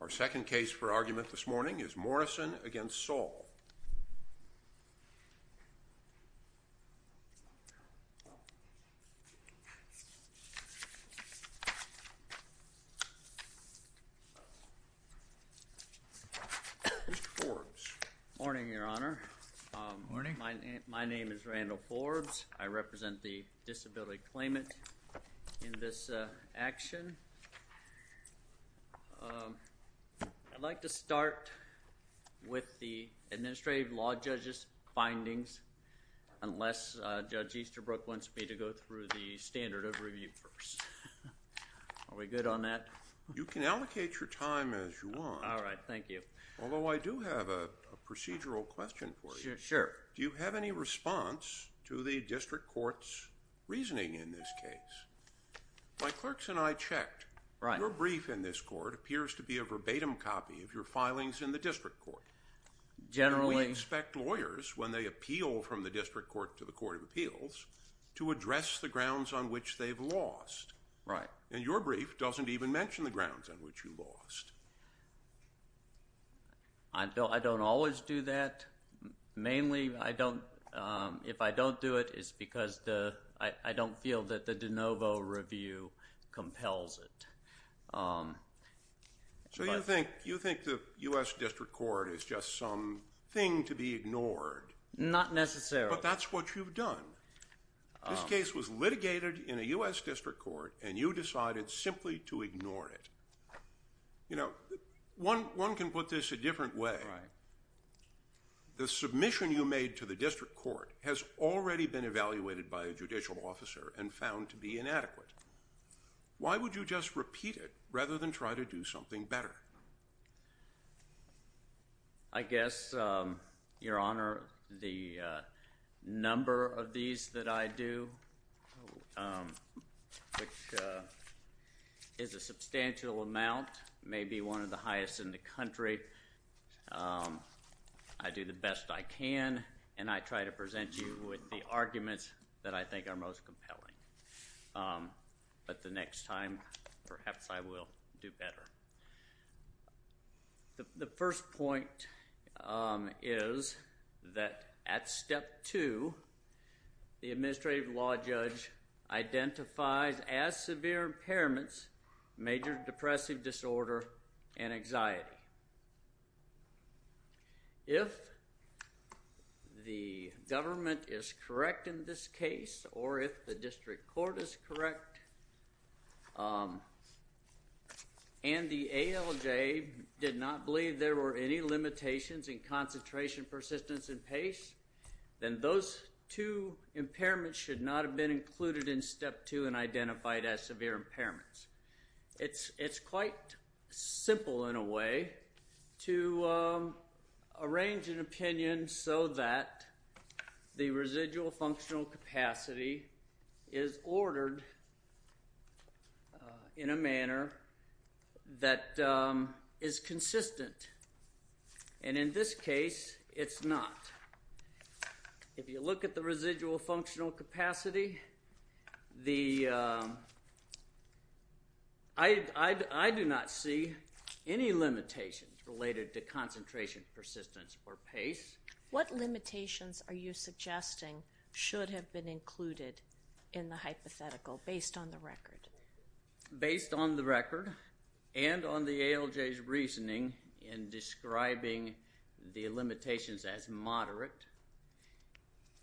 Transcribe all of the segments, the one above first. Our second case for argument this morning is Morrison v. Saul. Mr. Forbes. Morning, Your Honor. Morning. My name is Randall Forbes. I represent the disability claimant in this action. I'd like to start with the administrative law judge's findings, unless Judge Easterbrook wants me to go through the standard of review first. Are we good on that? You can allocate your time as you want. All right. Thank you. Although I do have a procedural question for you. Sure. Do you have any response to the district court's reasoning in this case? My clerks and I checked. Right. Your brief in this court appears to be a verbatim copy of your filings in the district court. Generally… And we inspect lawyers when they appeal from the district court to the court of appeals to address the grounds on which they've lost. Right. And your brief doesn't even mention the grounds on which you lost. I don't always do that. Mainly, if I don't do it, it's because I don't feel that the de novo review compels it. So you think the U.S. district court is just some thing to be ignored? Not necessarily. But that's what you've done. This case was litigated in a U.S. district court, and you decided simply to ignore it. You know, one can put this a different way. Right. The submission you made to the district court has already been evaluated by a judicial officer and found to be inadequate. Why would you just repeat it rather than try to do something better? I guess, Your Honor, the number of these that I do, which is a substantial amount, may be one of the highest in the country. I do the best I can, and I try to present you with the arguments that I think are most compelling. But the next time, perhaps I will do better. The first point is that at step two, the administrative law judge identifies as severe impairments major depressive disorder and anxiety. If the government is correct in this case, or if the district court is correct, and the ALJ did not believe there were any limitations in concentration, persistence, and pace, then those two impairments should not have been included in step two and identified as severe impairments. It's quite simple, in a way, to arrange an opinion so that the residual functional capacity is ordered in a manner that is consistent. And in this case, it's not. If you look at the residual functional capacity, I do not see any limitations related to concentration, persistence, or pace. What limitations are you suggesting should have been included in the hypothetical based on the record? Based on the record and on the ALJ's reasoning in describing the limitations as moderate,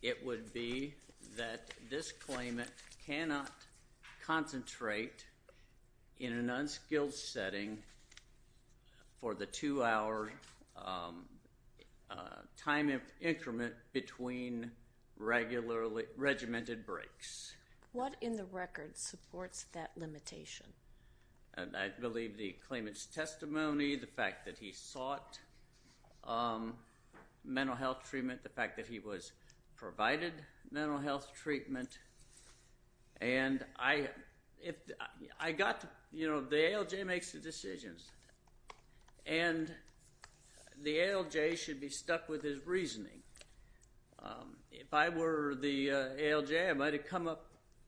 it would be that this claimant cannot concentrate in an unskilled setting for the two-hour time increment between regimented breaks. What in the record supports that limitation? I believe the claimant's testimony, the fact that he sought mental health treatment, the fact that he was provided mental health treatment. And I got to, you know, the ALJ makes the decisions. And the ALJ should be stuck with his reasoning. If I were the ALJ, I might have come up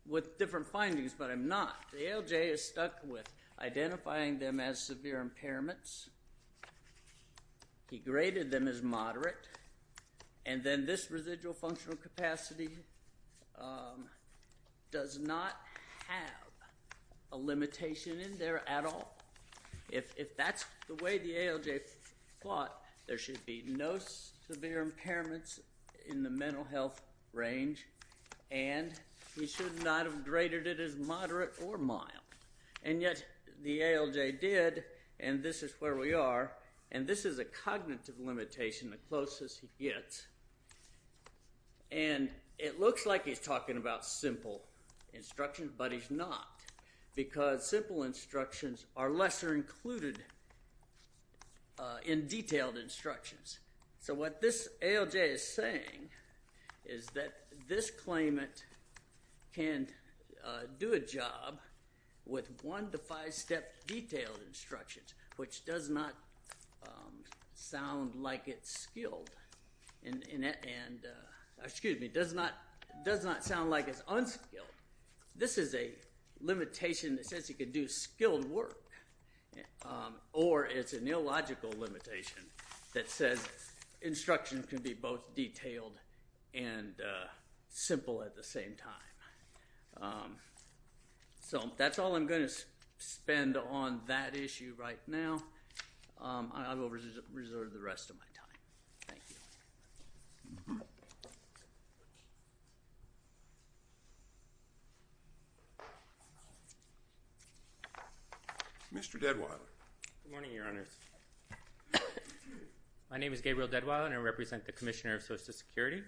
with different findings, but I'm not. The ALJ is stuck with identifying them as severe impairments. He graded them as moderate. And then this residual functional capacity does not have a limitation in there at all. If that's the way the ALJ thought, there should be no severe impairments in the mental health range. And he should not have graded it as moderate or mild. And yet the ALJ did, and this is where we are. And this is a cognitive limitation, the closest he gets. And it looks like he's talking about simple instructions, but he's not. Because simple instructions are lesser included in detailed instructions. So what this ALJ is saying is that this claimant can do a job with one to five step detailed instructions, which does not sound like it's skilled. And, excuse me, does not sound like it's unskilled. This is a limitation that says he can do skilled work. Or it's a neological limitation that says instructions can be both detailed and simple at the same time. So that's all I'm going to spend on that issue right now. I will reserve the rest of my time. Thank you. Mr. Deadwild. Good morning, Your Honors. My name is Gabriel Deadwild, and I represent the Commissioner of Social Security.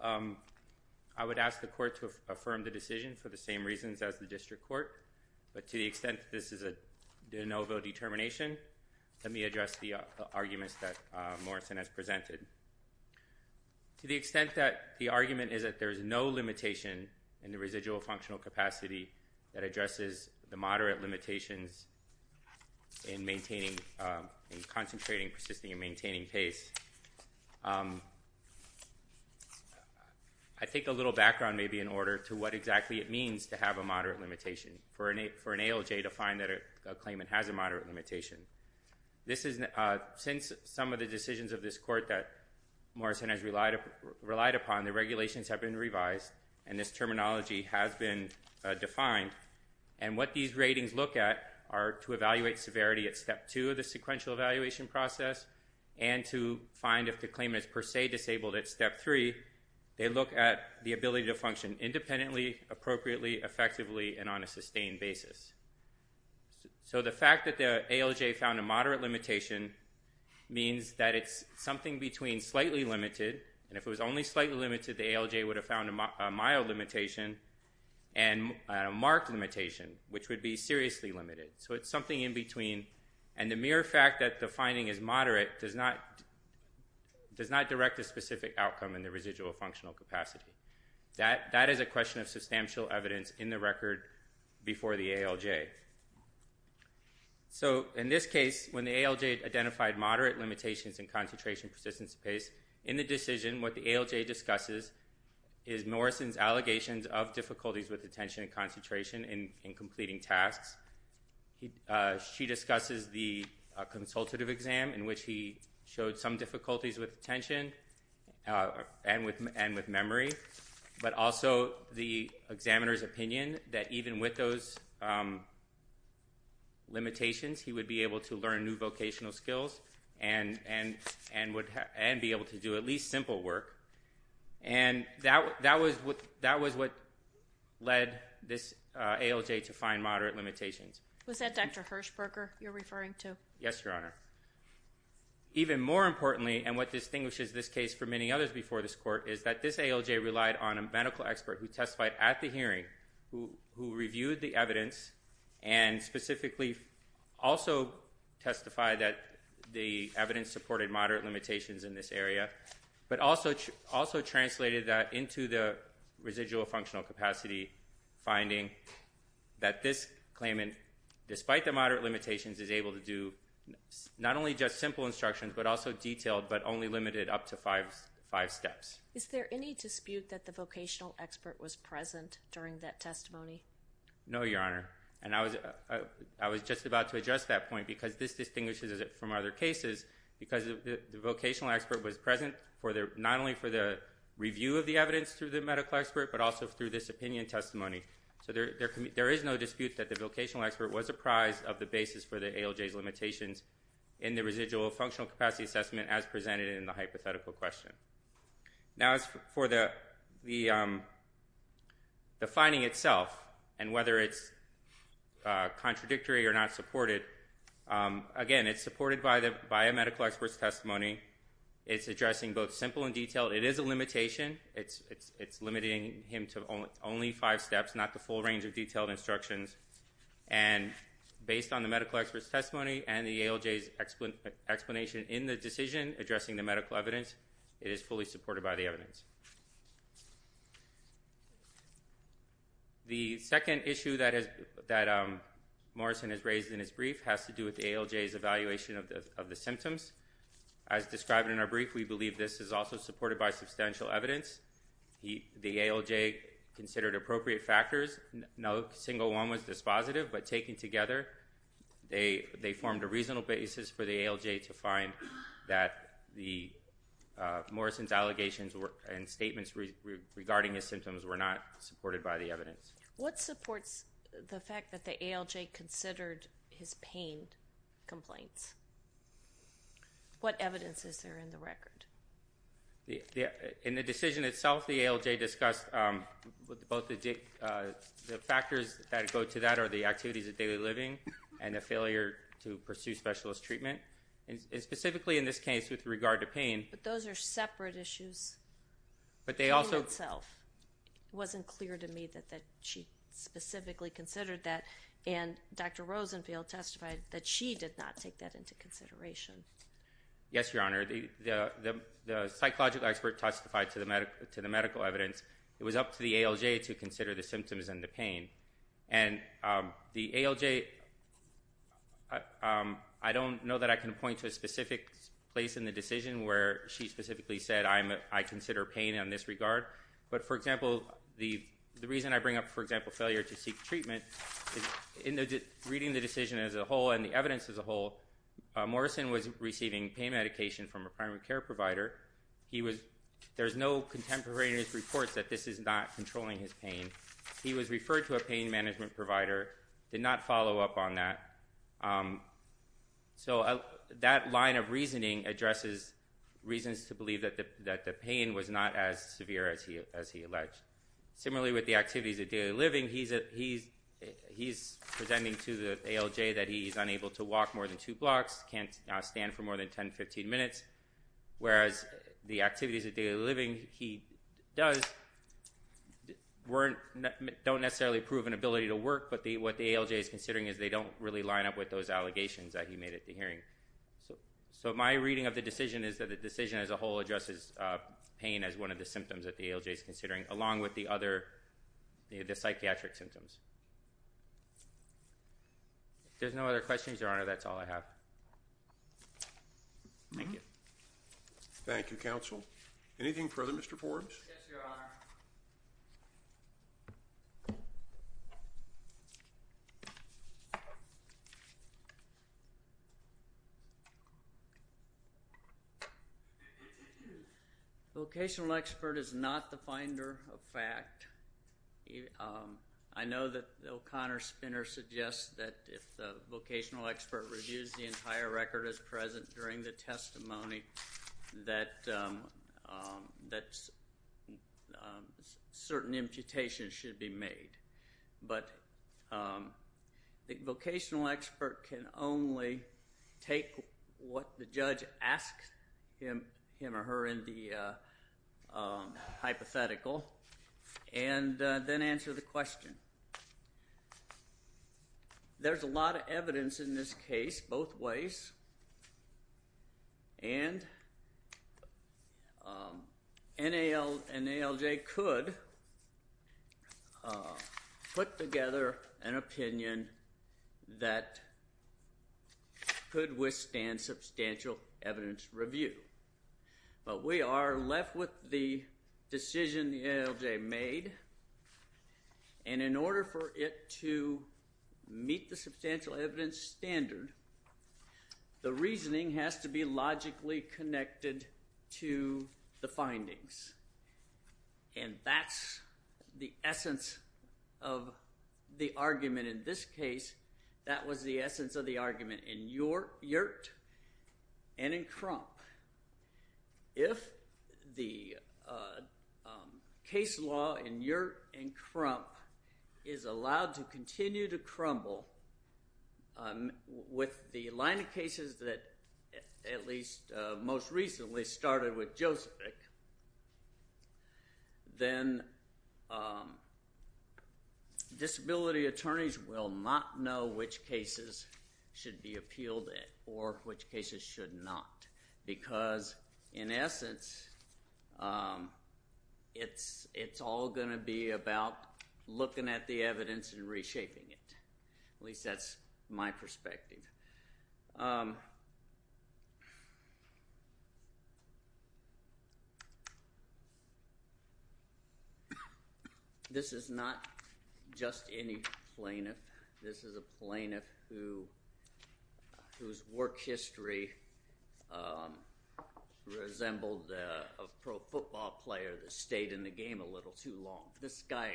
I would ask the court to affirm the decision for the same reasons as the district court. But to the extent that this is a de novo determination, let me address the arguments that Morrison has presented. To the extent that the argument is that there is no limitation in the residual functional capacity that addresses the moderate limitations in maintaining, in concentrating, persisting, and maintaining pace, I think a little background may be in order to what exactly it means to have a moderate limitation for an ALJ to find that a claimant has a moderate limitation. Since some of the decisions of this court that Morrison has relied upon, the regulations have been revised, and this terminology has been defined. And what these ratings look at are to evaluate severity at Step 2 of the sequential evaluation process and to find if the claimant is per se disabled at Step 3. They look at the ability to function independently, appropriately, effectively, and on a sustained basis. So the fact that the ALJ found a moderate limitation means that it's something between slightly limited, and if it was only slightly limited, the ALJ would have found a mild limitation, and a marked limitation, which would be seriously limited. So it's something in between, and the mere fact that the finding is moderate does not direct a specific outcome in the residual functional capacity. That is a question of substantial evidence in the record before the ALJ. So in this case, when the ALJ identified moderate limitations in concentration, persistence, and pace, in the decision what the ALJ discusses is Morrison's allegations of difficulties with attention and concentration in completing tasks. She discusses the consultative exam in which he showed some difficulties with attention and with memory, but also the examiner's opinion that even with those limitations, he would be able to learn new vocational skills and be able to do at least simple work. And that was what led this ALJ to find moderate limitations. Was that Dr. Hershberger you're referring to? Yes, Your Honor. Even more importantly, and what distinguishes this case from many others before this court, is that this ALJ relied on a medical expert who testified at the hearing, who reviewed the evidence, and specifically also testified that the evidence supported moderate limitations in this area, but also translated that into the residual functional capacity, finding that this claimant, despite the moderate limitations, is able to do not only just simple instructions but also detailed but only limited up to five steps. Is there any dispute that the vocational expert was present during that testimony? No, Your Honor. And I was just about to address that point because this distinguishes it from other cases. Because the vocational expert was present not only for the review of the evidence through the medical expert but also through this opinion testimony. So there is no dispute that the vocational expert was apprised of the basis for the ALJ's limitations in the residual functional capacity assessment as presented in the hypothetical question. Now, as for the finding itself and whether it's contradictory or not supported, again, it's supported by a medical expert's testimony. It's addressing both simple and detailed. It is a limitation. It's limiting him to only five steps, not the full range of detailed instructions. And based on the medical expert's testimony and the ALJ's explanation in the decision addressing the medical evidence, it is fully supported by the evidence. The second issue that Morrison has raised in his brief has to do with the ALJ's evaluation of the symptoms. As described in our brief, we believe this is also supported by substantial evidence. The ALJ considered appropriate factors. No single one was dispositive, but taken together, they formed a reasonable basis for the ALJ to find that Morrison's allegations and statements regarding his symptoms were not supported by the evidence. What supports the fact that the ALJ considered his pain complaints? What evidence is there in the record? In the decision itself, the ALJ discussed both the factors that go to that are the activities of daily living and the failure to pursue specialist treatment. And specifically in this case with regard to pain. But those are separate issues. But they also... The pain itself. It wasn't clear to me that she specifically considered that. And Dr. Rosenfield testified that she did not take that into consideration. Yes, Your Honor. The psychological expert testified to the medical evidence. It was up to the ALJ to consider the symptoms and the pain. And the ALJ... I don't know that I can point to a specific place in the decision where she specifically said, I consider pain in this regard. But, for example, the reason I bring up, for example, failure to seek treatment, in reading the decision as a whole and the evidence as a whole, Morrison was receiving pain medication from a primary care provider. There's no contemporary in his reports that this is not controlling his pain. He was referred to a pain management provider, did not follow up on that. So that line of reasoning addresses reasons to believe that the pain was not as severe as he alleged. Similarly with the activities of daily living, he's presenting to the ALJ that he's unable to walk more than two blocks, can't stand for more than 10, 15 minutes. Whereas the activities of daily living he does don't necessarily prove an ability to work, but what the ALJ is considering is they don't really line up with those allegations that he made at the hearing. So my reading of the decision is that the decision as a whole addresses pain as one of the symptoms that the ALJ is considering, along with the other psychiatric symptoms. If there's no other questions, Your Honor, that's all I have. Thank you. Thank you, counsel. Anything further, Mr. Forbes? Yes, Your Honor. Vocational expert is not the finder of fact. I know that O'Connor Spinner suggests that if the vocational expert reviews the entire record as present during the testimony that certain imputations should be made. But the vocational expert can only take what the judge asks him or her in the hypothetical and then answer the question. There's a lot of evidence in this case both ways, and an ALJ could put together an opinion that could withstand substantial evidence review. But we are left with the decision the ALJ made, and in order for it to meet the substantial evidence standard, the reasoning has to be logically connected to the findings. And that's the essence of the argument in this case. That was the essence of the argument in Yurt and in Crump. If the case law in Yurt and Crump is allowed to continue to crumble, with the line of cases that at least most recently started with Josephick, then disability attorneys will not know which cases should be appealed at or which cases should not. Because, in essence, it's all going to be about looking at the evidence and reshaping it. At least that's my perspective. This is not just any plaintiff. This is a plaintiff whose work history resembled a pro football player that stayed in the game a little too long. This guy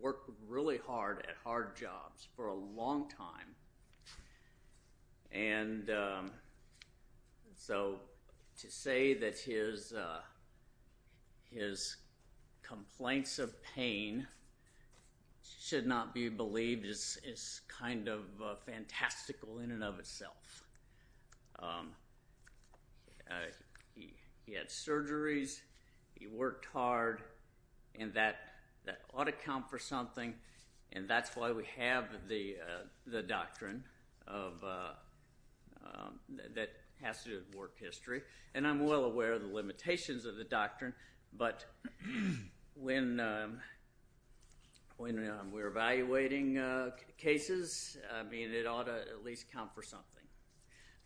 worked really hard at hard jobs for a long time. And so to say that his complaints of pain should not be believed is kind of fantastical in and of itself. He had surgeries. He worked hard. And that ought to count for something. And that's why we have the doctrine that has to do with work history. And I'm well aware of the limitations of the doctrine. But when we're evaluating cases, it ought to at least count for something.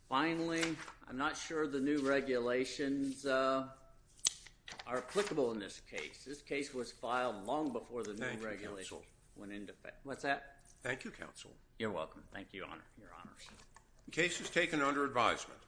Finally, I'm not sure the new regulations are applicable in this case. This case was filed long before the new regulations went into effect. What's that? Thank you, Counsel. You're welcome. Thank you, Your Honors. The case is taken under advisement.